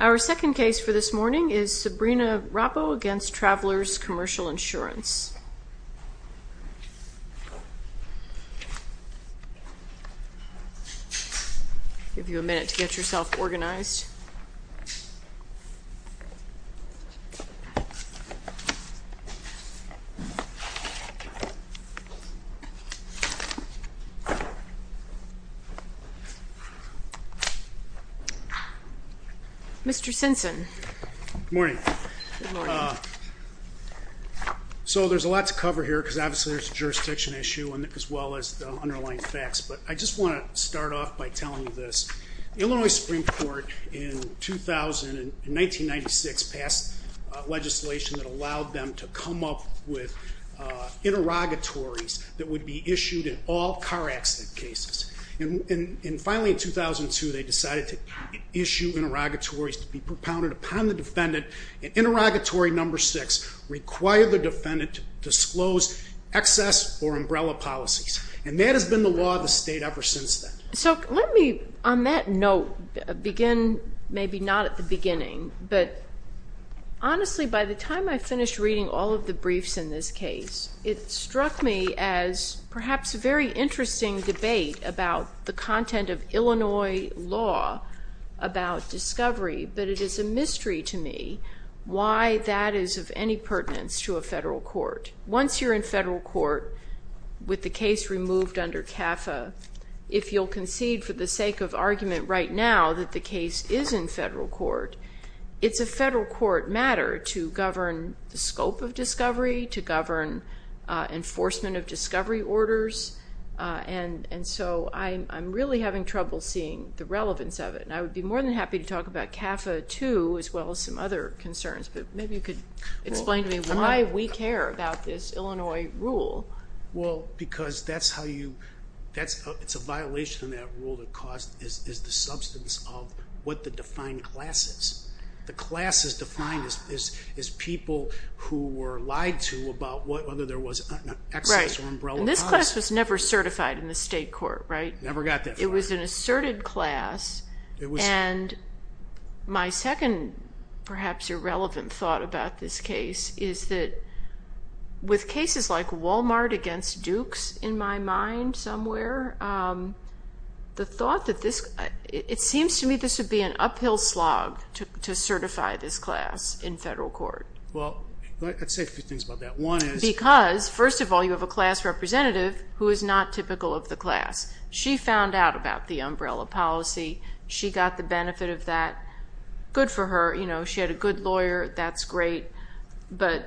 Our second case for this morning is Sabrina Roppo v. Travelers Commercial Insurance. I'll give you a minute to get yourself organized. Mr. Simpson. Good morning. So there's a lot to cover here because obviously there's a jurisdiction issue as well as the underlying facts. But I just want to start off by telling you this. The Illinois Supreme Court in 1996 passed legislation that allowed them to come up with interrogatories that would be issued in all car accident cases. And finally in 2002 they decided to issue interrogatories to be propounded upon the defendant. Interrogatory number six required the defendant to disclose excess or umbrella policies. And that has been the law of the state ever since then. So let me on that note begin maybe not at the beginning, but honestly by the time I finished reading all of the briefs in this case, it struck me as perhaps a very interesting debate about the content of Illinois law about discovery. But it is a mystery to me why that is of any pertinence to a federal court. Once you're in federal court with the case removed under CAFA, if you'll concede for the sake of argument right now that the case is in federal court, it's a federal court matter to govern the scope of discovery, to govern enforcement of discovery orders. And so I'm really having trouble seeing the relevance of it. And I would be more than happy to talk about CAFA too as well as some other concerns. But maybe you could explain to me why we care about this Illinois rule. Well, because it's a violation of that rule that is the substance of what the defined class is. The class is defined as people who were lied to about whether there was excess or umbrella policy. Right. And this class was never certified in the state court, right? Never got that far. It was an asserted class. And my second perhaps irrelevant thought about this case is that with cases like Walmart against Dukes in my mind somewhere, it seems to me this would be an uphill slog to certify this class in federal court. Well, let's say a few things about that. Because, first of all, you have a class representative who is not typical of the class. She found out about the umbrella policy. She got the benefit of that. Good for her. You know, she had a good lawyer. That's great. But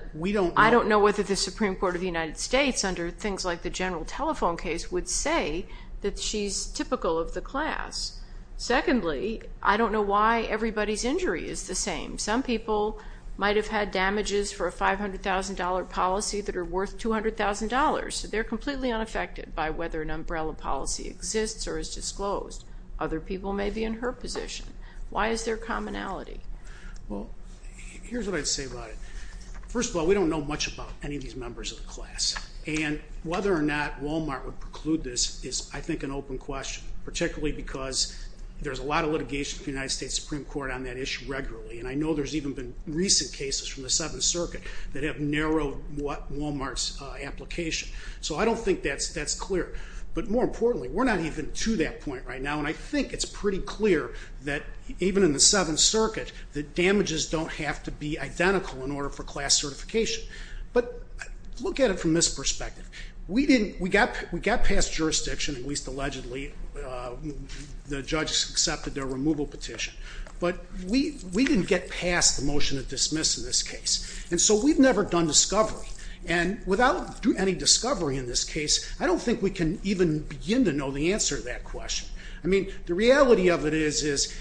I don't know whether the Supreme Court of the United States under things like the general telephone case would say that she's typical of the class. Secondly, I don't know why everybody's injury is the same. Some people might have had damages for a $500,000 policy that are worth $200,000. They're completely unaffected by whether an umbrella policy exists or is disclosed. Other people may be in her position. Why is there commonality? Well, here's what I'd say about it. First of all, we don't know much about any of these members of the class. And whether or not Walmart would preclude this is, I think, an open question, particularly because there's a lot of litigation in the United States Supreme Court on that issue regularly. And I know there's even been recent cases from the Seventh Circuit that have narrowed Walmart's application. So I don't think that's clear. But more importantly, we're not even to that point right now. And I think it's pretty clear that even in the Seventh Circuit that damages don't have to be identical in order for class certification. But look at it from this perspective. We got past jurisdiction, at least allegedly. The judge accepted their removal petition. But we didn't get past the motion to dismiss in this case. And so we've never done discovery. And without any discovery in this case, I don't think we can even begin to know the answer to that question. I mean, the reality of it is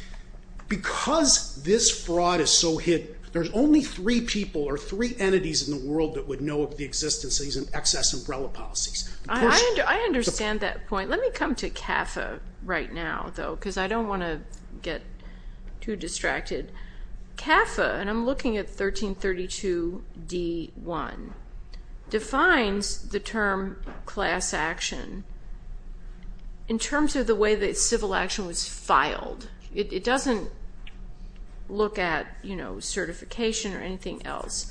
because this fraud is so hidden, there's only three people or three entities in the world that would know of the existence of these excess umbrella policies. I understand that point. Let me come to CAFA right now, though, because I don't want to get too distracted. CAFA, and I'm looking at 1332d-1, defines the term class action in terms of the way that civil action was filed. It doesn't look at certification or anything else.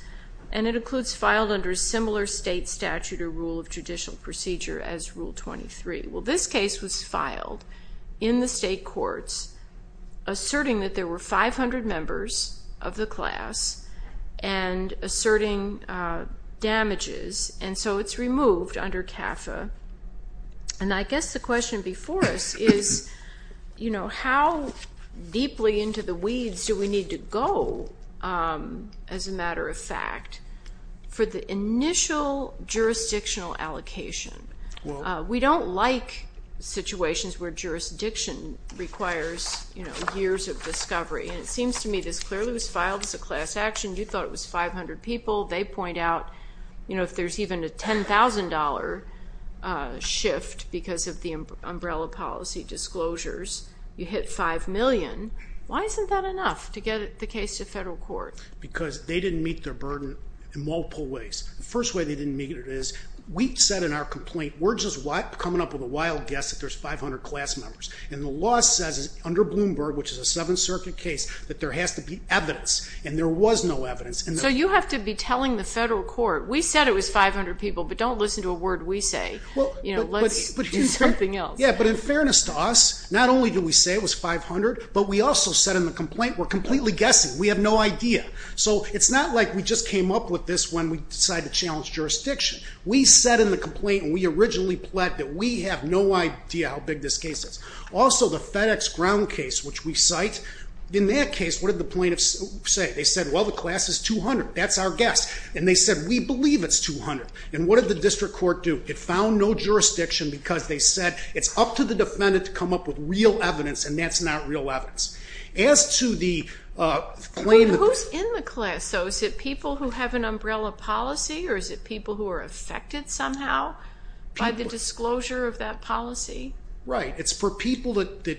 And it includes filed under a similar state statute or rule of judicial procedure as Rule 23. Well, this case was filed in the state courts asserting that there were 500 members of the class and asserting damages. And so it's removed under CAFA. And I guess the question before us is, you know, how deeply into the weeds do we need to go, as a matter of fact, for the initial jurisdictional allocation? We don't like situations where jurisdiction requires, you know, years of discovery. And it seems to me this clearly was filed as a class action. You thought it was 500 people. They point out, you know, if there's even a $10,000 shift because of the umbrella policy disclosures, you hit 5 million. Why isn't that enough to get the case to federal court? Because they didn't meet their burden in multiple ways. The first way they didn't meet it is we said in our complaint, we're just coming up with a wild guess that there's 500 class members. And the law says under Bloomberg, which is a Seventh Circuit case, that there has to be evidence. And there was no evidence. So you have to be telling the federal court, we said it was 500 people, but don't listen to a word we say. You know, let's do something else. Yeah, but in fairness to us, not only did we say it was 500, but we also said in the complaint, we're completely guessing. We have no idea. So it's not like we just came up with this when we decided to challenge jurisdiction. We said in the complaint, and we originally pled, that we have no idea how big this case is. Also, the FedEx ground case, which we cite, in that case, what did the plaintiffs say? They said, well, the class is 200. That's our guess. And they said, we believe it's 200. And what did the district court do? It found no jurisdiction because they said it's up to the defendant to come up with real evidence, and that's not real evidence. As to the claim that the- Who's in the class, though? Is it people who have an umbrella policy, or is it people who are affected somehow by the disclosure of that policy? Right. It's for people that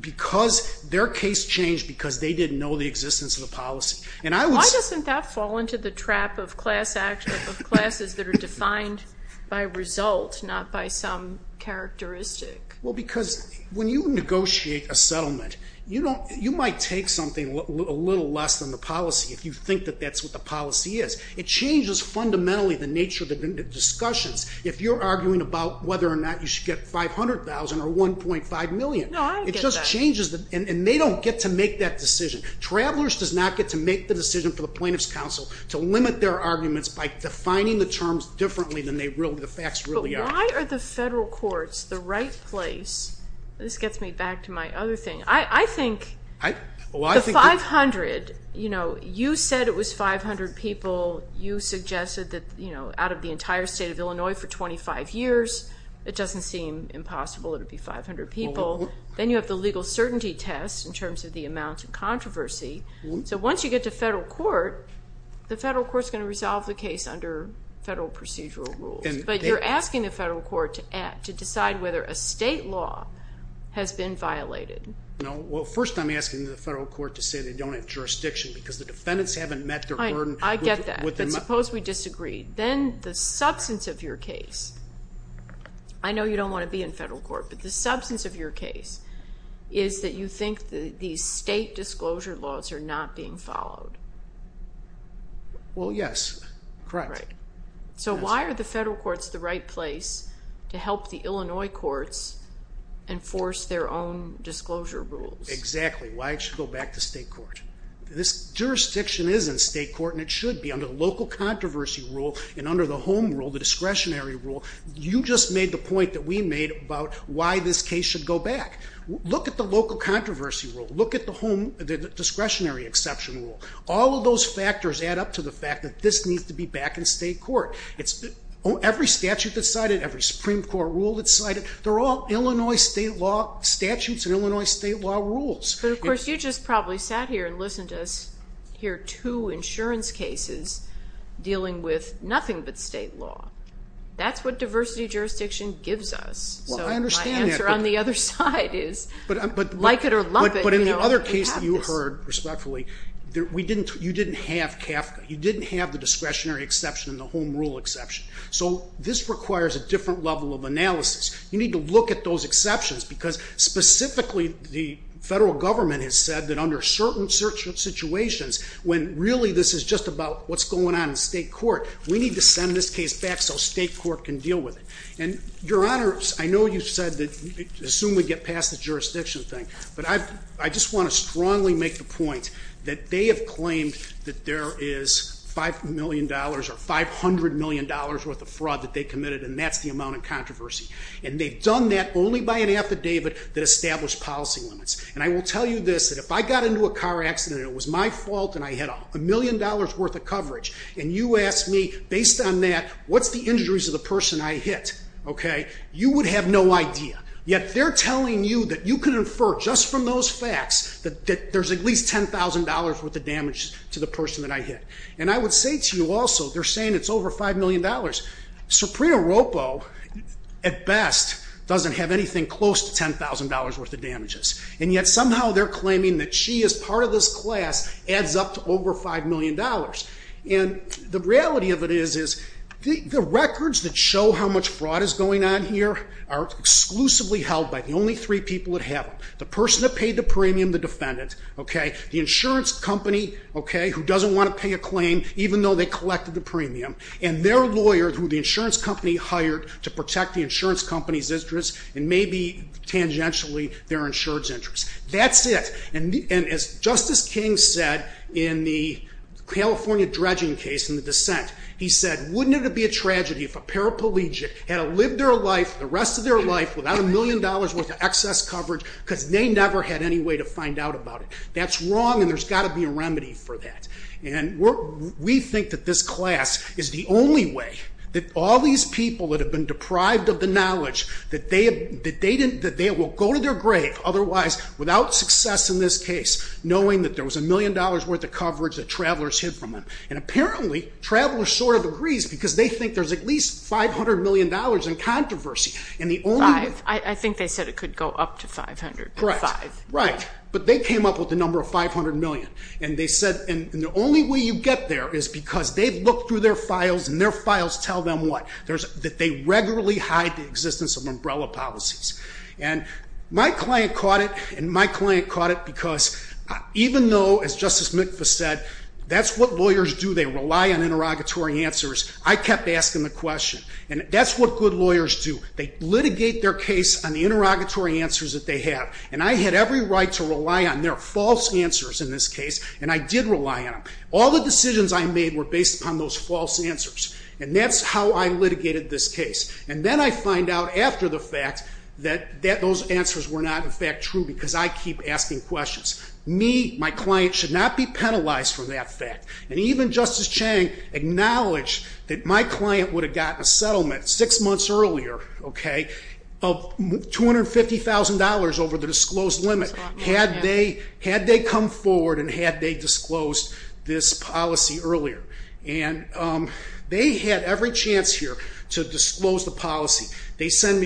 because their case changed because they didn't know the existence of the policy. Why doesn't that fall into the trap of classes that are defined by result, not by some characteristic? Well, because when you negotiate a settlement, you might take something a little less than the policy if you think that that's what the policy is. It changes fundamentally the nature of the discussions. If you're arguing about whether or not you should get $500,000 or $1.5 million- No, I don't get that. It just changes, and they don't get to make that decision. Travelers does not get to make the decision for the Plaintiffs' Council to limit their arguments by defining the terms differently than the facts really are. But why are the federal courts the right place? This gets me back to my other thing. I think the 500, you know, you said it was 500 people. You suggested that, you know, out of the entire state of Illinois for 25 years, it doesn't seem impossible it would be 500 people. Then you have the legal certainty test in terms of the amount of controversy. So once you get to federal court, the federal court is going to resolve the case under federal procedural rules. But you're asking the federal court to decide whether a state law has been violated. No, well, first I'm asking the federal court to say they don't have jurisdiction because the defendants haven't met their burden. I get that. But suppose we disagree. Then the substance of your case, I know you don't want to be in federal court, but the substance of your case is that you think these state disclosure laws are not being followed. Well, yes, correct. Right. So why are the federal courts the right place to help the Illinois courts enforce their own disclosure rules? Exactly. Why it should go back to state court. This jurisdiction is in state court and it should be under the local controversy rule and under the home rule, the discretionary rule. You just made the point that we made about why this case should go back. Look at the local controversy rule. Look at the discretionary exception rule. All of those factors add up to the fact that this needs to be back in state court. Every statute that's cited, every Supreme Court rule that's cited, they're all Illinois state law statutes and Illinois state law rules. But, of course, you just probably sat here and listened to us hear two insurance cases dealing with nothing but state law. That's what diversity jurisdiction gives us. Well, I understand that. So my answer on the other side is like it or love it. But in the other case that you heard, respectfully, you didn't have CAFCA. You didn't have the discretionary exception and the home rule exception. So this requires a different level of analysis. You need to look at those exceptions because, specifically, the federal government has said that under certain situations when really this is just about what's going on in state court, we need to send this case back so state court can deal with it. And, Your Honor, I know you said that assume we get past the jurisdiction thing. But I just want to strongly make the point that they have claimed that there is $5 million or $500 million worth of fraud that they committed, and that's the amount in controversy. And they've done that only by an affidavit that established policy limits. And I will tell you this, that if I got into a car accident and it was my fault and I had a million dollars worth of coverage and you asked me, based on that, what's the injuries of the person I hit, okay, you would have no idea. Yet they're telling you that you can infer just from those facts that there's at least $10,000 worth of damage to the person that I hit. And I would say to you also, they're saying it's over $5 million. Suprena Roppo, at best, doesn't have anything close to $10,000 worth of damages. And yet somehow they're claiming that she, as part of this class, adds up to over $5 million. And the reality of it is the records that show how much fraud is going on here are exclusively held by the only three people that have them, the person that paid the premium, the defendant, okay, the insurance company, okay, who doesn't want to pay a claim even though they collected the premium. And their lawyer, who the insurance company hired to protect the insurance company's interest and maybe tangentially their insurance interest. That's it. And as Justice King said in the California dredging case in the dissent, he said, wouldn't it be a tragedy if a paraplegic had to live their life, the rest of their life, without a million dollars worth of excess coverage because they never had any way to find out about it. That's wrong and there's got to be a remedy for that. And we think that this class is the only way that all these people that have been deprived of the knowledge that they will go to their grave otherwise without success in this case, knowing that there was a million dollars worth of coverage that travelers hid from them. And apparently travelers sort of agrees because they think there's at least $500 million in controversy. And the only- Five. I think they said it could go up to 500. Correct. Five. Right. But they came up with the number of $500 million. And they said, and the only way you get there is because they've looked through their files and their files tell them what? That they regularly hide the existence of umbrella policies. And my client caught it and my client caught it because even though, as Justice Mitva said, that's what lawyers do. They rely on interrogatory answers. I kept asking the question. And that's what good lawyers do. They litigate their case on the interrogatory answers that they have. And I had every right to rely on their false answers in this case. And I did rely on them. All the decisions I made were based upon those false answers. And that's how I litigated this case. And then I find out after the fact that those answers were not, in fact, true because I keep asking questions. Me, my client, should not be penalized for that fact. And even Justice Chang acknowledged that my client would have gotten a settlement six months earlier, okay, of $250,000 over the disclosed limit had they come forward and had they disclosed this policy earlier. And they had every chance here to disclose the policy. They send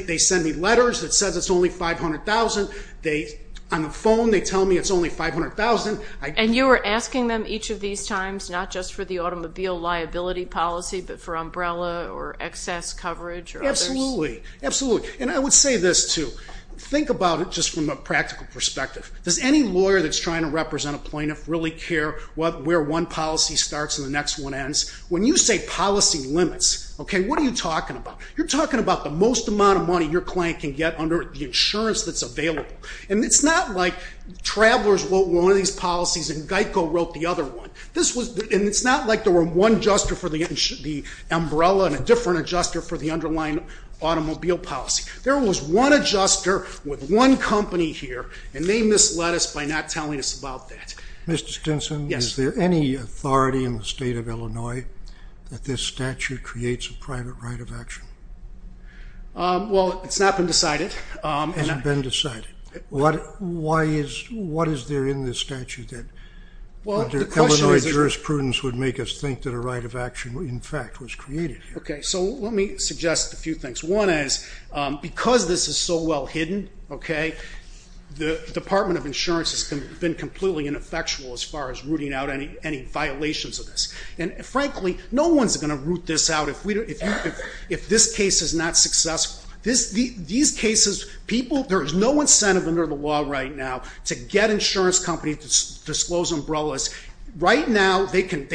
me letters that says it's only $500,000. On the phone they tell me it's only $500,000. And you were asking them each of these times not just for the automobile liability policy but for umbrella or excess coverage or others? Absolutely. Absolutely. And I would say this, too. Think about it just from a practical perspective. Does any lawyer that's trying to represent a plaintiff really care where one policy starts and the next one ends? When you say policy limits, okay, what are you talking about? You're talking about the most amount of money your client can get under the insurance that's available. And it's not like Travelers wrote one of these policies and GEICO wrote the other one. And it's not like there were one adjuster for the umbrella and a different adjuster for the underlying automobile policy. There was one adjuster with one company here, and they misled us by not telling us about that. Mr. Stinson? Yes. Is there any authority in the State of Illinois that this statute creates a private right of action? Well, it's not been decided. It hasn't been decided. What is there in this statute? Illinois jurisprudence would make us think that a right of action, in fact, was created here. Okay, so let me suggest a few things. One is because this is so well hidden, okay, the Department of Insurance has been completely ineffectual as far as rooting out any violations of this. And, frankly, no one's going to root this out if this case is not successful. These cases, people, there is no incentive under the law right now to get insurance companies to disclose umbrellas. Right now, they can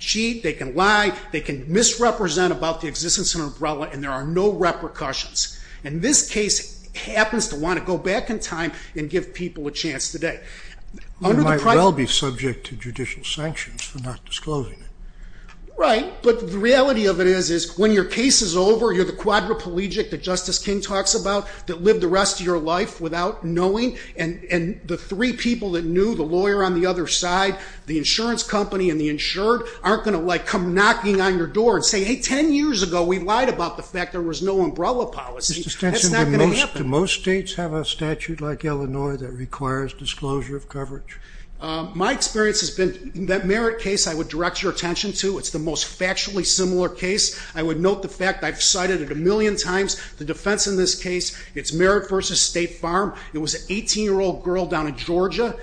cheat, they can lie, they can misrepresent about the existence of an umbrella, and there are no repercussions. And this case happens to want to go back in time and give people a chance today. You might well be subject to judicial sanctions for not disclosing it. Right. But the reality of it is when your case is over, you're the quadriplegic that Justice King talks about that lived the rest of your life without knowing, and the three people that knew, the lawyer on the other side, the insurance company, and the insured, aren't going to, like, come knocking on your door and say, hey, 10 years ago we lied about the fact there was no umbrella policy. That's not going to happen. Mr. Stenson, do most states have a statute like Illinois that requires disclosure of coverage? My experience has been that merit case I would direct your attention to, it's the most factually similar case. I would note the fact I've cited it a million times, the defense in this case, it's merit versus state farm. It was an 18-year-old girl down in Georgia.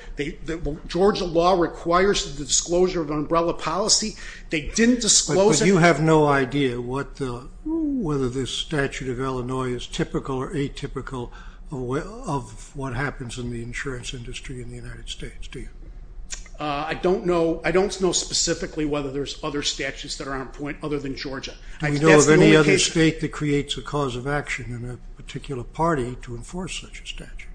Georgia law requires the disclosure of an umbrella policy. They didn't disclose it. But you have no idea whether this statute of Illinois is typical or atypical of what happens in the insurance industry in the United States, do you? I don't know specifically whether there's other statutes that are on point other than Georgia. Do you know of any other state that creates a cause of action in a particular party to enforce such a statute?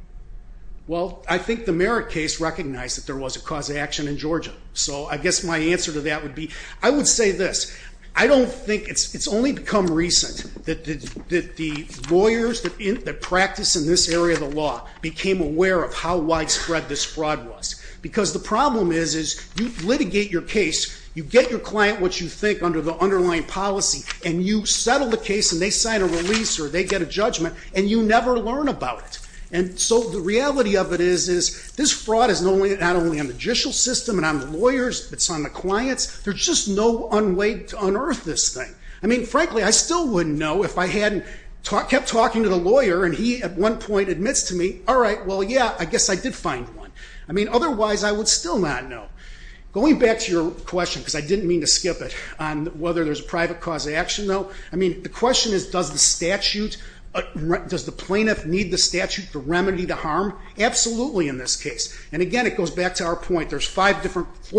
Well, I think the merit case recognized that there was a cause of action in Georgia. So I guess my answer to that would be, I would say this, I don't think it's only become recent that the lawyers that practice in this area of the law became aware of how widespread this fraud was. Because the problem is you litigate your case, you get your client what you think under the underlying policy, and you settle the case and they sign a release or they get a judgment, and you never learn about it. And so the reality of it is this fraud is not only on the judicial system, it's on the lawyers, it's on the clients. There's just no way to unearth this thing. I mean, frankly, I still wouldn't know if I hadn't kept talking to the lawyer and he at one point admits to me, all right, well, yeah, I guess I did find one. I mean, otherwise I would still not know. Going back to your question, because I didn't mean to skip it, on whether there's a private cause of action though, I mean, the question is does the statute, does the plaintiff need the statute to remedy the harm? Absolutely in this case. And, again, it goes back to our point, there's four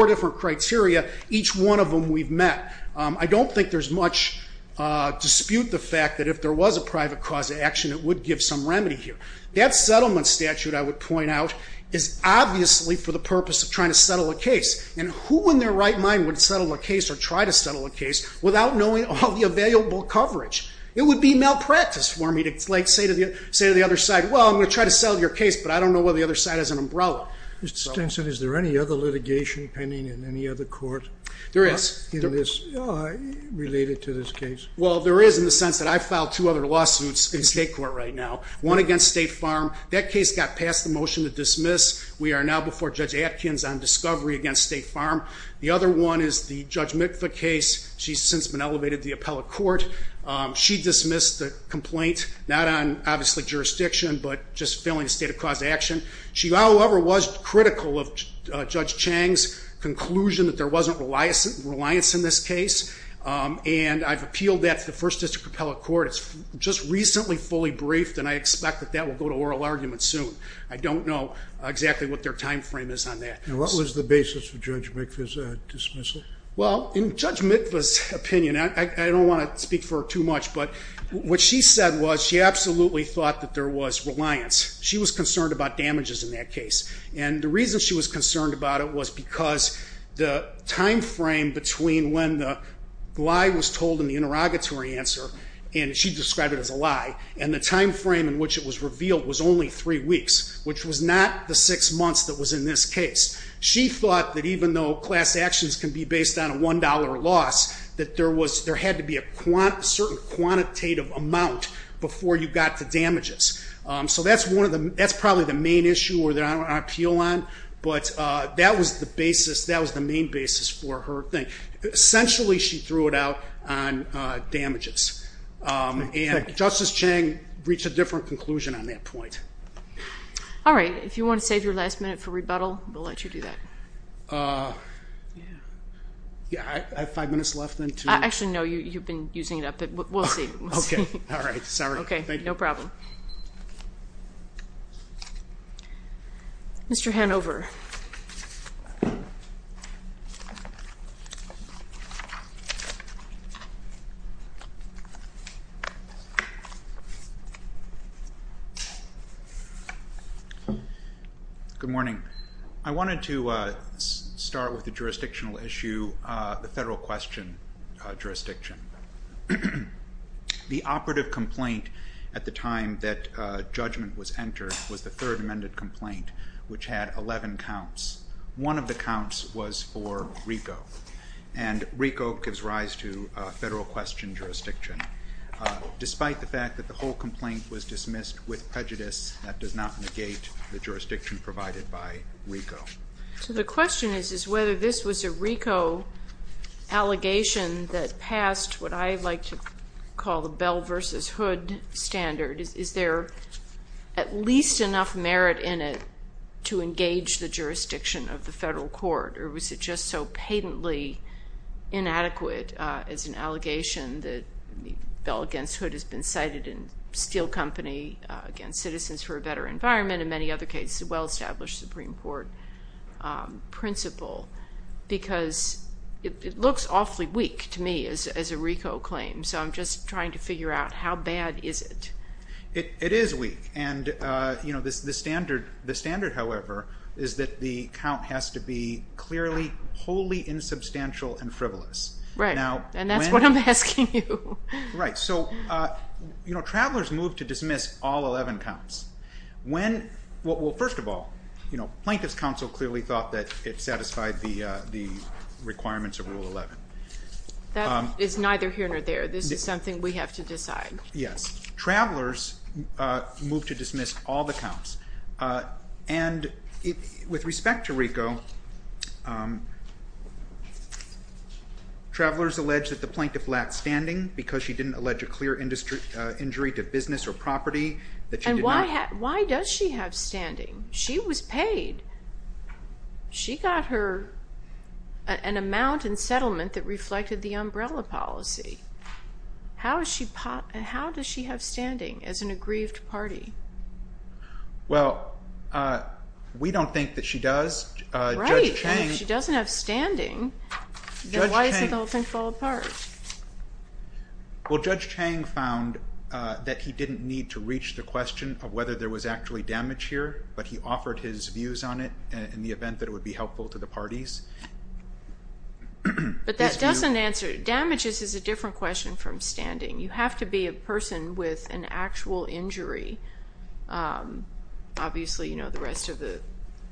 different criteria, each one of them we've met. I don't think there's much dispute the fact that if there was a private cause of action it would give some remedy here. That settlement statute, I would point out, is obviously for the purpose of trying to settle a case. And who in their right mind would settle a case or try to settle a case without knowing all the available coverage? It would be malpractice for me to say to the other side, well, I'm going to try to settle your case, but I don't know whether the other side has an umbrella. Mr. Stinson, is there any other litigation pending in any other court? There is. Related to this case. Well, there is in the sense that I filed two other lawsuits in state court right now. One against State Farm. That case got passed the motion to dismiss. We are now before Judge Atkins on discovery against State Farm. The other one is the Judge Mitva case. She's since been elevated to the appellate court. She dismissed the complaint, not on, obviously, jurisdiction, but just failing the state of cause of action. She, however, was critical of Judge Chang's conclusion that there wasn't reliance in this case. And I've appealed that to the First District Appellate Court. It's just recently fully briefed, and I expect that that will go to oral argument soon. I don't know exactly what their time frame is on that. And what was the basis for Judge Mitva's dismissal? Well, in Judge Mitva's opinion, I don't want to speak for her too much, but what she said was she absolutely thought that there was reliance. She was concerned about damages in that case. And the reason she was concerned about it was because the time frame between when the lie was told in the interrogatory answer, and she described it as a lie, and the time frame in which it was revealed was only 3 weeks, which was not the 6 months that was in this case. She thought that even though class actions can be based on a $1 loss, that there had to be a certain quantitative amount before you got to damages. So that's probably the main issue that I appeal on. But that was the main basis for her thing. Essentially, she threw it out on damages. And Justice Chang reached a different conclusion on that point. All right. If you want to save your last minute for rebuttal, we'll let you do that. I have 5 minutes left, then, to... Actually, no, you've been using it up. But we'll see. All right. Sorry. Thank you. No problem. Mr. Hanover. Good morning. I wanted to start with a jurisdictional issue, the federal question jurisdiction. The operative complaint at the time that judgment was entered was the third amended complaint, which had 11 counts. One of the counts was for RICO. And RICO gives rise to federal question jurisdiction. Despite the fact that the whole complaint was dismissed with prejudice, that does not negate the jurisdiction provided by RICO. So the question is whether this was a RICO allegation that passed what I like to call the Bell v. Hood standard. Is there at least enough merit in it to engage the jurisdiction of the federal court? Or was it just so patently inadequate as an allegation that Bell v. Hood has been cited in Steel Company against Citizens for a Better Environment and many other cases, a well-established Supreme Court principle? Because it looks awfully weak to me as a RICO claim. So I'm just trying to figure out how bad is it. It is weak. The standard, however, is that the count has to be clearly wholly insubstantial and frivolous. And that's what I'm asking you. Right. So Travelers moved to dismiss all 11 counts. First of all, Plaintiffs' Counsel clearly thought that it satisfied the requirements of Rule 11. That is neither here nor there. This is something we have to decide. Yes. Travelers moved to dismiss all the counts. And with respect to RICO, Travelers alleged that the Plaintiff lacked standing because she didn't allege a clear injury to business or property. And why does she have standing? She was paid. She got her an amount in settlement that reflected the umbrella policy. How does she have standing as an aggrieved party? Well, we don't think that she does. Right. If she doesn't have standing, then why does the whole thing fall apart? Well, Judge Chang found that he didn't need to reach the question of whether there was actually damage here, but he offered his views on it in the event that it would be helpful to the parties. But that doesn't answer it. Damages is a different question from standing. You have to be a person with an actual injury. Obviously, you know, the rest of the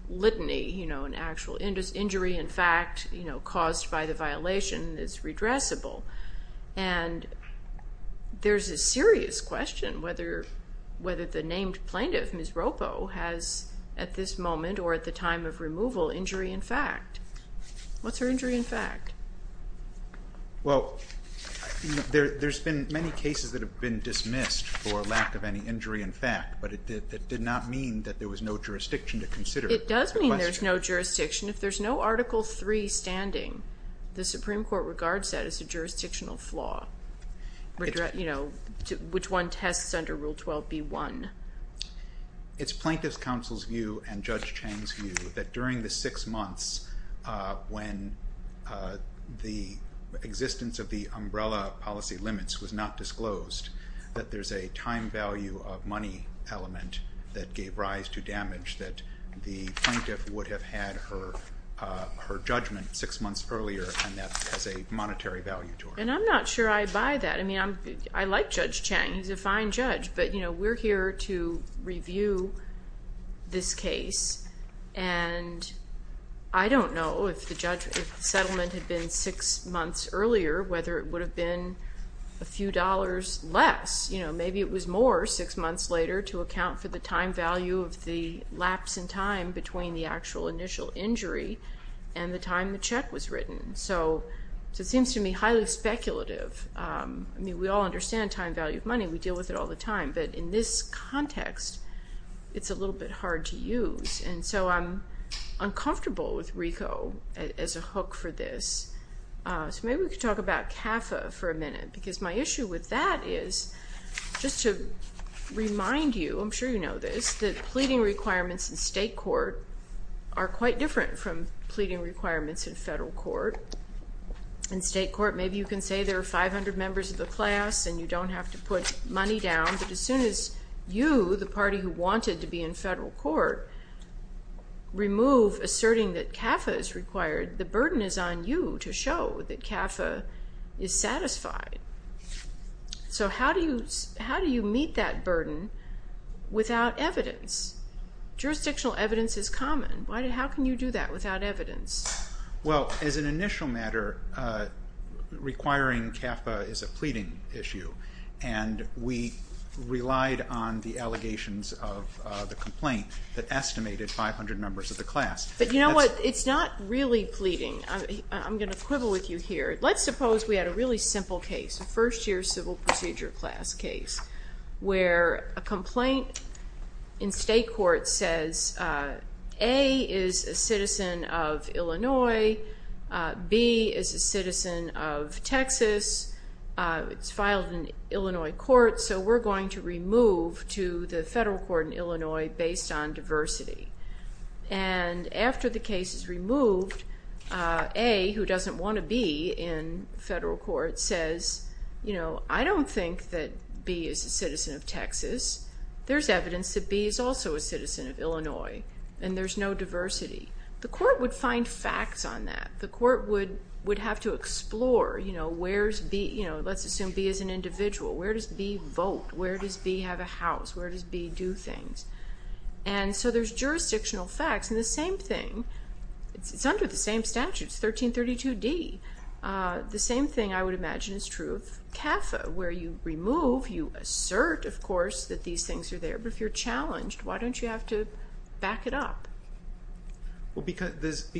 litany, you know, an actual injury, in fact, caused by the violation is redressable. And there's a serious question whether the named Plaintiff, Ms. Roppo, has at this moment or at the time of removal injury in fact. What's her injury in fact? Well, there's been many cases that have been dismissed for lack of any injury in fact, but it did not mean that there was no jurisdiction to consider it. It does mean there's no jurisdiction. If there's no Article III standing, the Supreme Court regards that as a jurisdictional flaw, you know, which one tests under Rule 12b-1. It's Plaintiff's counsel's view and Judge Chang's view that during the six months when the existence of the umbrella policy limits was not disclosed, that there's a time value of money element that gave rise to damage, that the Plaintiff would have had her judgment six months earlier, and that has a monetary value to her. And I'm not sure I buy that. I mean, I like Judge Chang. He's a fine judge. But, you know, we're here to review this case, and I don't know if the settlement had been six months earlier, whether it would have been a few dollars less. You know, maybe it was more six months later to account for the time value of the lapse in time between the actual initial injury and the time the check was written. So it seems to me highly speculative. I mean, we all understand time value of money. We deal with it all the time. But in this context, it's a little bit hard to use. And so I'm uncomfortable with RICO as a hook for this. So maybe we could talk about CAFA for a minute, because my issue with that is just to remind you, I'm sure you know this, that pleading requirements in state court are quite different from pleading requirements in federal court. In state court, maybe you can say there are 500 members of the class and you don't have to put money down. But as soon as you, the party who wanted to be in federal court, remove asserting that CAFA is required, the burden is on you to show that CAFA is satisfied. So how do you meet that burden without evidence? Jurisdictional evidence is common. How can you do that without evidence? Well, as an initial matter, requiring CAFA is a pleading issue. And we relied on the allegations of the complaint that estimated 500 members of the class. But you know what? It's not really pleading. I'm going to quibble with you here. Let's suppose we had a really simple case, a first-year civil procedure class case, where a complaint in state court says A is a citizen of Illinois, B is a citizen of Texas, it's filed in Illinois court, so we're going to remove to the federal court in Illinois based on diversity. And after the case is removed, A, who doesn't want to be in federal court, says, you know, I don't think that B is a citizen of Texas. There's evidence that B is also a citizen of Illinois, and there's no diversity. The court would find facts on that. The court would have to explore, you know, where's B? Let's assume B is an individual. Where does B vote? Where does B have a house? Where does B do things? And so there's jurisdictional facts, and the same thing. It's under the same statute. It's 1332D. The same thing I would imagine is true of CAFA, where you remove, you assert, of course, that these things are there, but if you're challenged, why don't you have to back it up? Well, because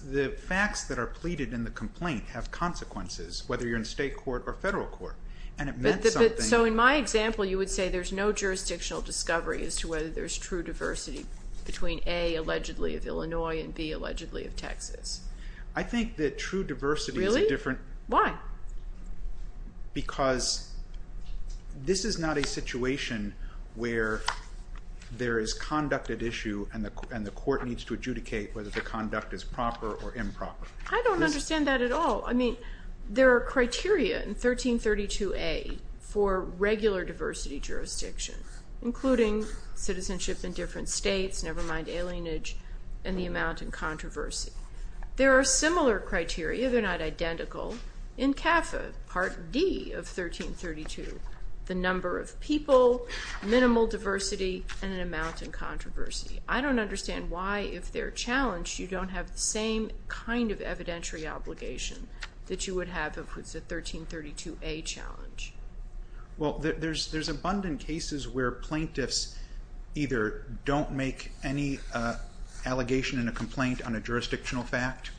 the facts that are pleaded in the complaint have consequences, whether you're in state court or federal court, and it meant something. So in my example, you would say there's no jurisdictional discovery as to whether there's true diversity between A, allegedly of Illinois, and B, allegedly of Texas. I think that true diversity is a different. Really? Why? Because this is not a situation where there is conduct at issue and the court needs to adjudicate whether the conduct is proper or improper. I don't understand that at all. I mean, there are criteria in 1332A for regular diversity jurisdiction, including citizenship in different states, never mind alienage, and the amount in controversy. There are similar criteria, they're not identical, in CAFA Part D of 1332, the number of people, minimal diversity, and an amount in controversy. I don't understand why, if they're challenged, you don't have the same kind of evidentiary obligation that you would have if it's a 1332A challenge. Well, there's abundant cases where plaintiffs either don't make any allegation in a complaint on a jurisdictional fact,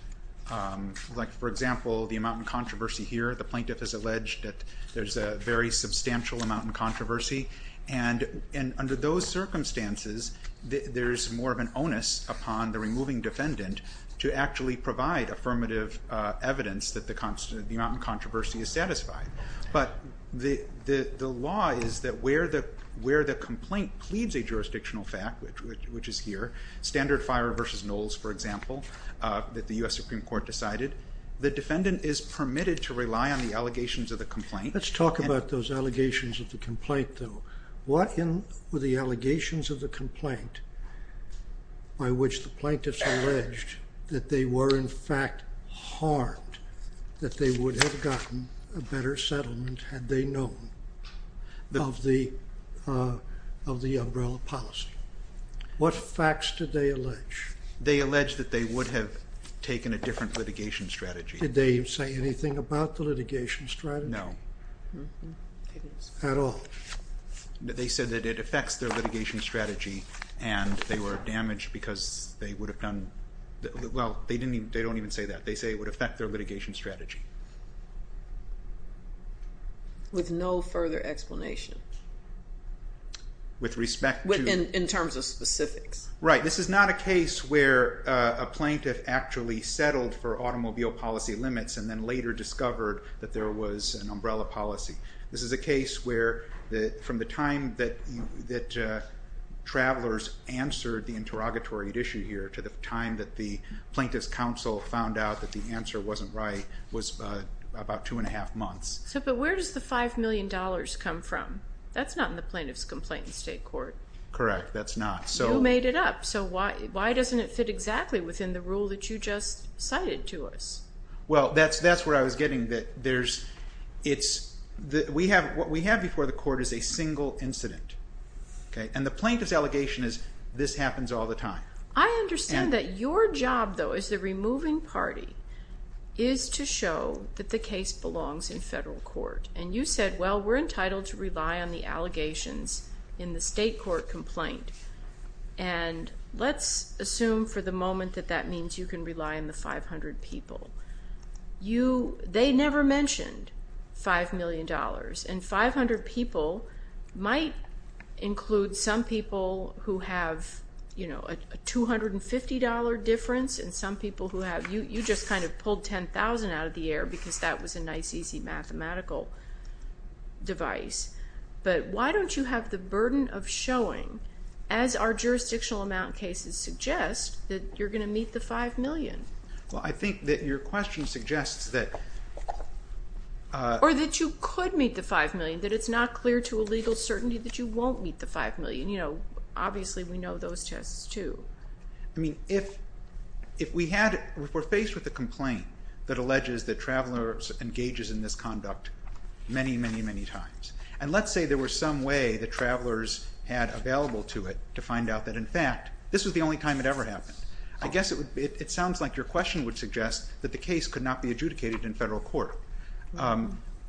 like, for example, the amount in controversy here. The plaintiff has alleged that there's a very substantial amount in controversy. And under those circumstances, there's more of an onus upon the removing defendant to actually provide affirmative evidence that the amount in controversy is satisfied. But the law is that where the complaint pleads a jurisdictional fact, which is here, standard fire versus nulls, for example, that the U.S. Supreme Court decided, the defendant is permitted to rely on the allegations of the complaint. Let's talk about those allegations of the complaint, though. What were the allegations of the complaint by which the plaintiffs alleged that they were, in fact, harmed, that they would have gotten a better settlement, had they known, of the umbrella policy? What facts did they allege? They allege that they would have taken a different litigation strategy. Did they say anything about the litigation strategy? No. Not at all. They said that it affects their litigation strategy, and they were damaged because they would have done... Well, they don't even say that. They say it would affect their litigation strategy. With no further explanation. With respect to... In terms of specifics. Right. This is not a case where a plaintiff actually settled for automobile policy limits and then later discovered that there was an umbrella policy. This is a case where, from the time that travelers answered the interrogatory issue here to the time that the Plaintiff's Counsel found out that the answer wasn't right, was about two and a half months. But where does the $5 million come from? That's not in the Plaintiff's Complaint in state court. Correct. That's not. You made it up, so why doesn't it fit exactly within the rule that you just cited to us? Well, that's where I was getting that there's... What we have before the court is a single incident. And the Plaintiff's Allegation is, this happens all the time. I understand that your job, though, as the removing party, is to show that the case belongs in federal court. And you said, well, we're entitled to rely on the allegations in the state court complaint. And let's assume for the moment that that means you can rely on the 500 people. They never mentioned $5 million. And 500 people might include some people who have a $250 difference and some people who have... You just kind of pulled $10,000 out of the air because that was a nice, easy mathematical device. But why don't you have the burden of showing, as our jurisdictional amount cases suggest, that you're going to meet the $5 million? Well, I think that your question suggests that... Or that you could meet the $5 million, that it's not clear to a legal certainty that you won't meet the $5 million. Obviously, we know those tests, too. I mean, if we're faced with a complaint that alleges that travelers engages in this conduct many, many, many times, and let's say there was some way that travelers had available to it to find out that, in fact, this was the only time it ever happened. I guess it sounds like your question would suggest that the case could not be adjudicated in federal court.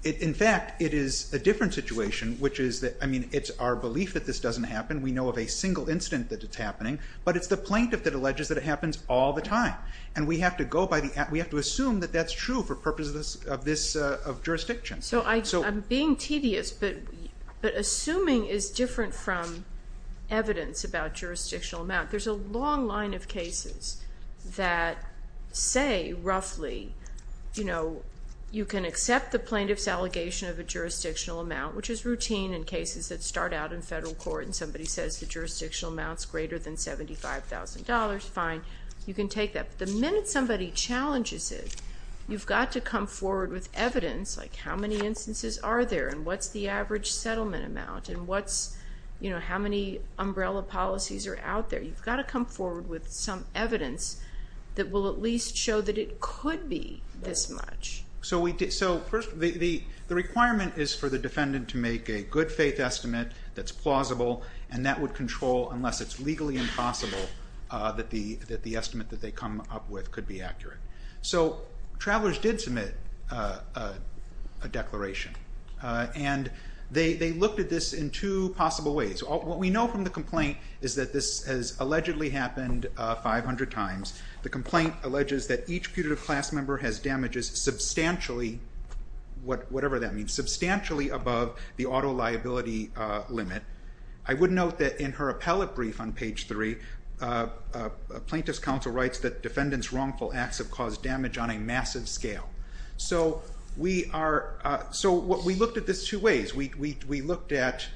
In fact, it is a different situation, which is that... I mean, it's our belief that this doesn't happen. We know of a single incident that it's happening. But it's the plaintiff that alleges that it happens all the time. And we have to assume that that's true for purposes of jurisdiction. So I'm being tedious, but assuming is different from evidence about jurisdictional amount. There's a long line of cases that say, roughly, you can accept the plaintiff's allegation of a jurisdictional amount, which is routine in cases that start out in federal court, and somebody says the jurisdictional amount's greater than $75,000, fine. You can take that. But the minute somebody challenges it, you've got to come forward with evidence, like how many instances are there, and what's the average settlement amount, and how many umbrella policies are out there. You've got to come forward with some evidence that will at least show that it could be this much. So first, the requirement is for the defendant to make a good-faith estimate that's plausible, and that would control, unless it's legally impossible, that the estimate that they come up with could be accurate. So Travelers did submit a declaration, and they looked at this in two possible ways. What we know from the complaint is that this has allegedly happened 500 times. The complaint alleges that each putative class member has damages substantially, whatever that means, substantially above the auto liability limit. I would note that in her appellate brief on page 3, a plaintiff's counsel writes that defendants' wrongful acts have caused damage on a massive scale. So we looked at this two ways. We looked at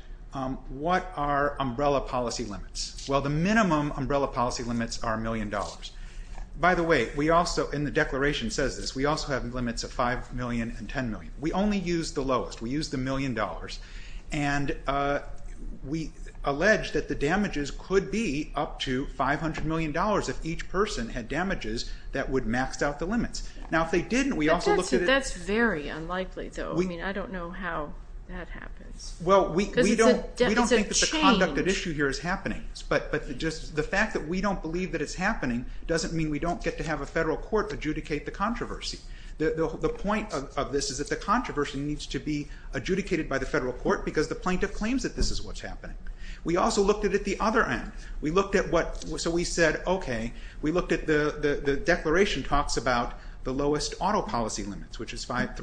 what are umbrella policy limits. Well, the minimum umbrella policy limits are $1 million. By the way, we also, and the declaration says this, we also have limits of $5 million and $10 million. We only use the lowest. We use the $1 million. And we allege that the damages could be up to $500 million if each person had damages that would max out the limits. Now, if they didn't, we also looked at it. That's very unlikely, though. I mean, I don't know how that happens. Well, we don't think that the conduct at issue here is happening, but just the fact that we don't believe that it's happening doesn't mean we don't get to have a federal court adjudicate the controversy. The point of this is that the controversy needs to be adjudicated by the federal court because the plaintiff claims that this is what's happening. We also looked at it the other end. We looked at what, so we said, okay, we looked at the declaration talks about the lowest auto policy limits, which is $300,000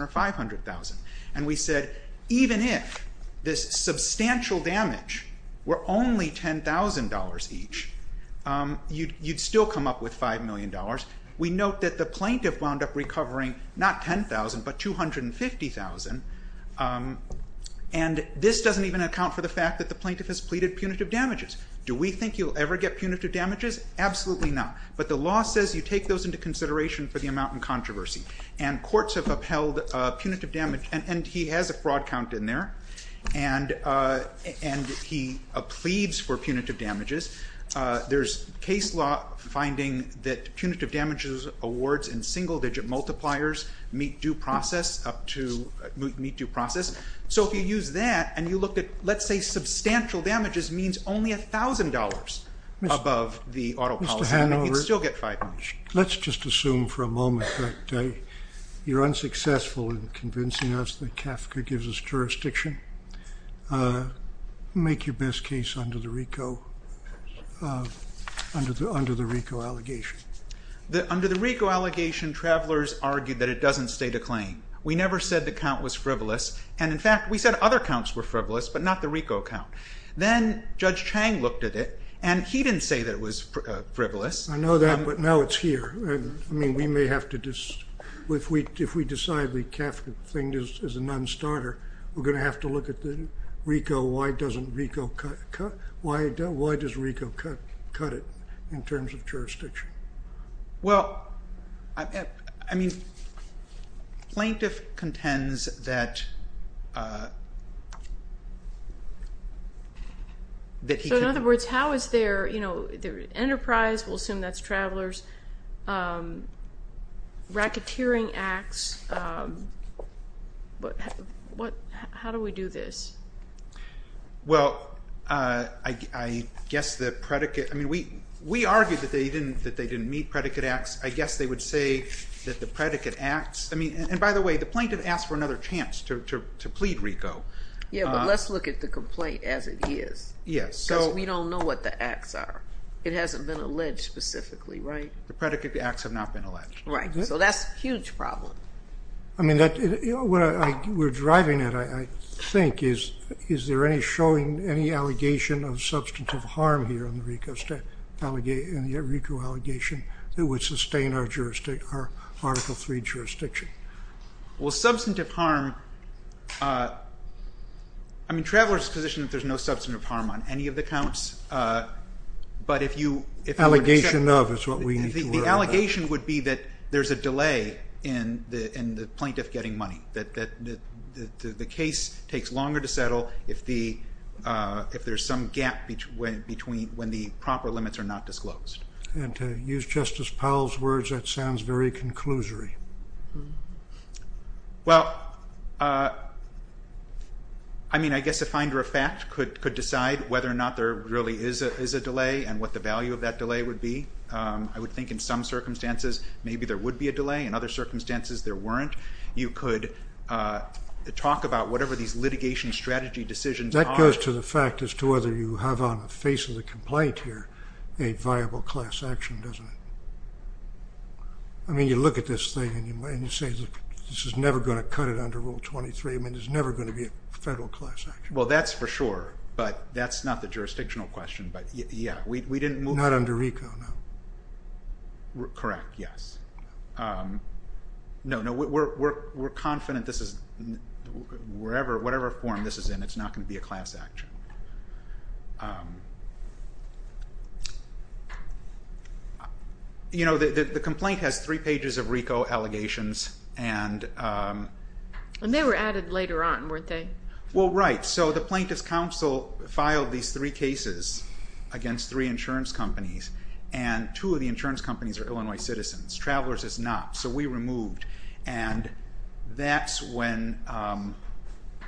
or $500,000. And we said, even if this substantial damage were only $10,000 each, you'd still come up with $5 million. We note that the plaintiff wound up recovering not $10,000, but $250,000. And this doesn't even account for the fact that the plaintiff has pleaded punitive damages. Do we think you'll ever get punitive damages? Absolutely not. But the law says you take those into consideration for the amount in controversy. And courts have upheld punitive damage, and he has a fraud count in there, and he pleads for punitive damages. There's case law finding that punitive damages awards in single-digit multipliers meet due process. So if you use that and you look at, let's say, substantial damages means only $1,000 above the auto policy limit, you'd still get $5 million. Let's just assume for a moment that you're unsuccessful in convincing us that CAFCA gives us jurisdiction. Make your best case under the RICO allegation. Under the RICO allegation, travelers argued that it doesn't stay the claim. We never said the count was frivolous. And in fact, we said other counts were frivolous, but not the RICO count. Then Judge Chang looked at it, and he didn't say that it was frivolous. I know that, but now it's here. I mean, we may have to just, if we decide the CAFCA thing is a non-starter, we're going to have to look at the RICO. Why does RICO cut it in terms of jurisdiction? Well, I mean, plaintiff contends that he can't. So in other words, how is their enterprise, we'll assume that's travelers, racketeering acts, how do we do this? Well, I guess the predicate, I mean, we argued that they didn't meet predicate acts. I guess they would say that the predicate acts, I mean, and by the way, the plaintiff asked for another chance to plead RICO. Yeah, but let's look at the complaint as it is. Yes. Because we don't know what the acts are. It hasn't been alleged specifically, right? The predicate acts have not been alleged. Right. So that's a huge problem. I mean, what we're driving at, I think, is is there any showing any allegation of substantive harm here in the RICO allegation that would sustain our Article III jurisdiction? Well, substantive harm, I mean, there's no substantive harm on any of the counts. Allegation of is what we need to worry about. The allegation would be that there's a delay in the plaintiff getting money, that the case takes longer to settle if there's some gap between when the proper limits are not disclosed. And to use Justice Powell's words, that sounds very conclusory. Well, I mean, I guess a finder of fact could decide whether or not there really is a delay and what the value of that delay would be. I would think in some circumstances maybe there would be a delay. In other circumstances, there weren't. You could talk about whatever these litigation strategy decisions are. That goes to the fact as to whether you have on the face of the complaint here a viable class action, doesn't it? I mean, you look at this thing and you say, this is never going to cut it under Rule 23. I mean, there's never going to be a federal class action. Well, that's for sure, but that's not the jurisdictional question. But, yeah, we didn't move. Not under RICO, no. Correct, yes. No, no, we're confident this is, whatever form this is in, it's not going to be a class action. You know, the complaint has three pages of RICO allegations. And they were added later on, weren't they? Well, right. So the Plaintiff's Counsel filed these three cases against three insurance companies, and two of the insurance companies are Illinois citizens. Travelers is not, so we removed. And that's when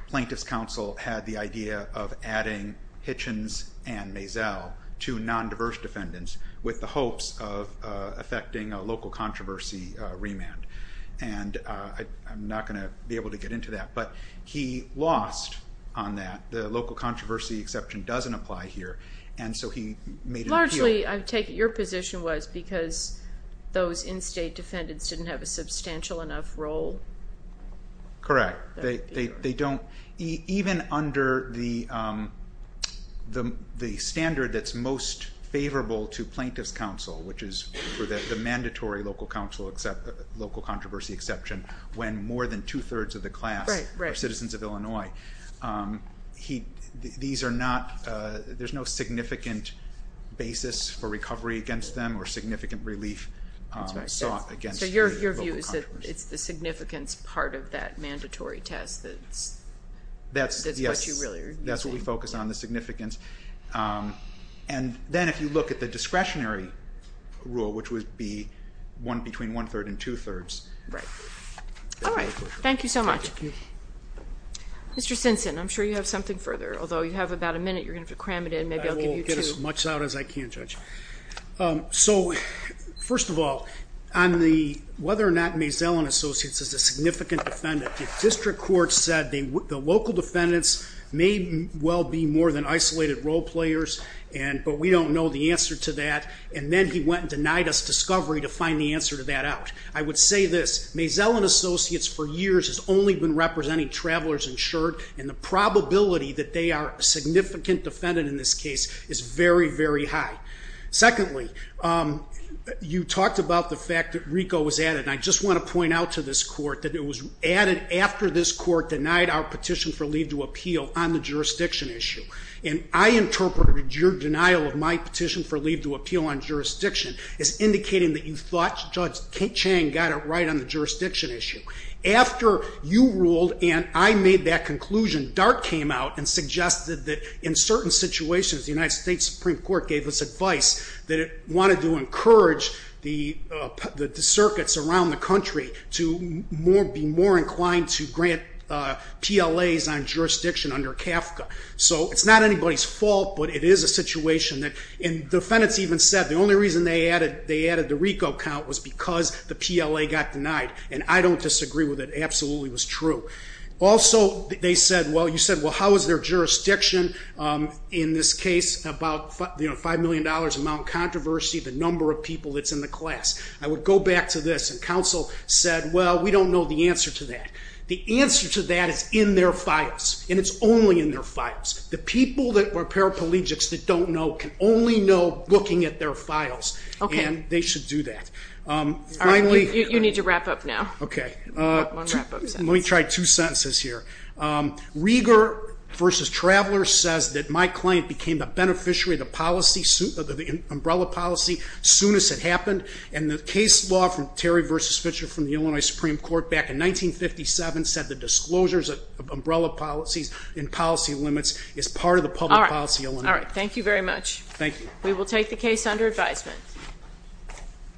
Plaintiff's Counsel had the idea of adding Hitchens and Mazel to non-diverse defendants with the hopes of affecting a local controversy remand. And I'm not going to be able to get into that, but he lost on that. The local controversy exception doesn't apply here, and so he made an appeal. Largely, I take it your position was because those in-state defendants didn't have a substantial enough role? Correct. Even under the standard that's most favorable to Plaintiff's Counsel, which is for the mandatory local controversy exception, when more than two-thirds of the class are citizens of Illinois, there's no significant basis for recovery against them or significant relief sought against the local controversy. So your view is that it's the significance part of that mandatory test that's what you really are using? Yes, that's what we focus on, the significance. And then if you look at the discretionary rule, which would be one between one-third and two-thirds. Right. All right, thank you so much. Mr. Simpson, I'm sure you have something further, although you have about a minute. You're going to have to cram it in. Maybe I'll give you two. I will get as much out as I can, Judge. So, first of all, on the whether or not Mays-Ellen Associates is a significant defendant, the district court said the local defendants may well be more than isolated role players, but we don't know the answer to that. And then he went and denied us discovery to find the answer to that out. I would say this. Mays-Ellen Associates, for years, has only been representing travelers insured, and the probability that they are a significant defendant in this case is very, very high. Secondly, you talked about the fact that RICO was added, and I just want to point out to this court that it was added after this court denied our petition for leave to appeal on the jurisdiction issue. And I interpreted your denial of my petition for leave to appeal on jurisdiction as indicating that you thought Judge Chang got it right on the jurisdiction issue. After you ruled and I made that conclusion, DART came out and suggested that in certain situations, the United States Supreme Court gave us advice that it wanted to encourage the circuits around the country to be more inclined to grant PLAs on jurisdiction under CAFCA. So it's not anybody's fault, but it is a situation that, and defendants even said the only reason they added the RICO count was because the PLA got denied, and I don't disagree with it. It absolutely was true. Also, they said, well, you said, well, how is their jurisdiction in this case about $5 million, amount of controversy, the number of people that's in the class. I would go back to this, and counsel said, well, we don't know the answer to that. The answer to that is in their files, and it's only in their files. The people that are paraplegics that don't know can only know looking at their files, and they should do that. All right, you need to wrap up now. Okay. One wrap-up sentence. Let me try two sentences here. Rieger v. Traveler says that my client became the beneficiary of the policy, the umbrella policy, soon as it happened, and the case law from Terry v. Fitcher from the Illinois Supreme Court back in 1957 said the disclosures of umbrella policies and policy limits is part of the public policy. All right, thank you very much. Thank you. We will take the case under advisement.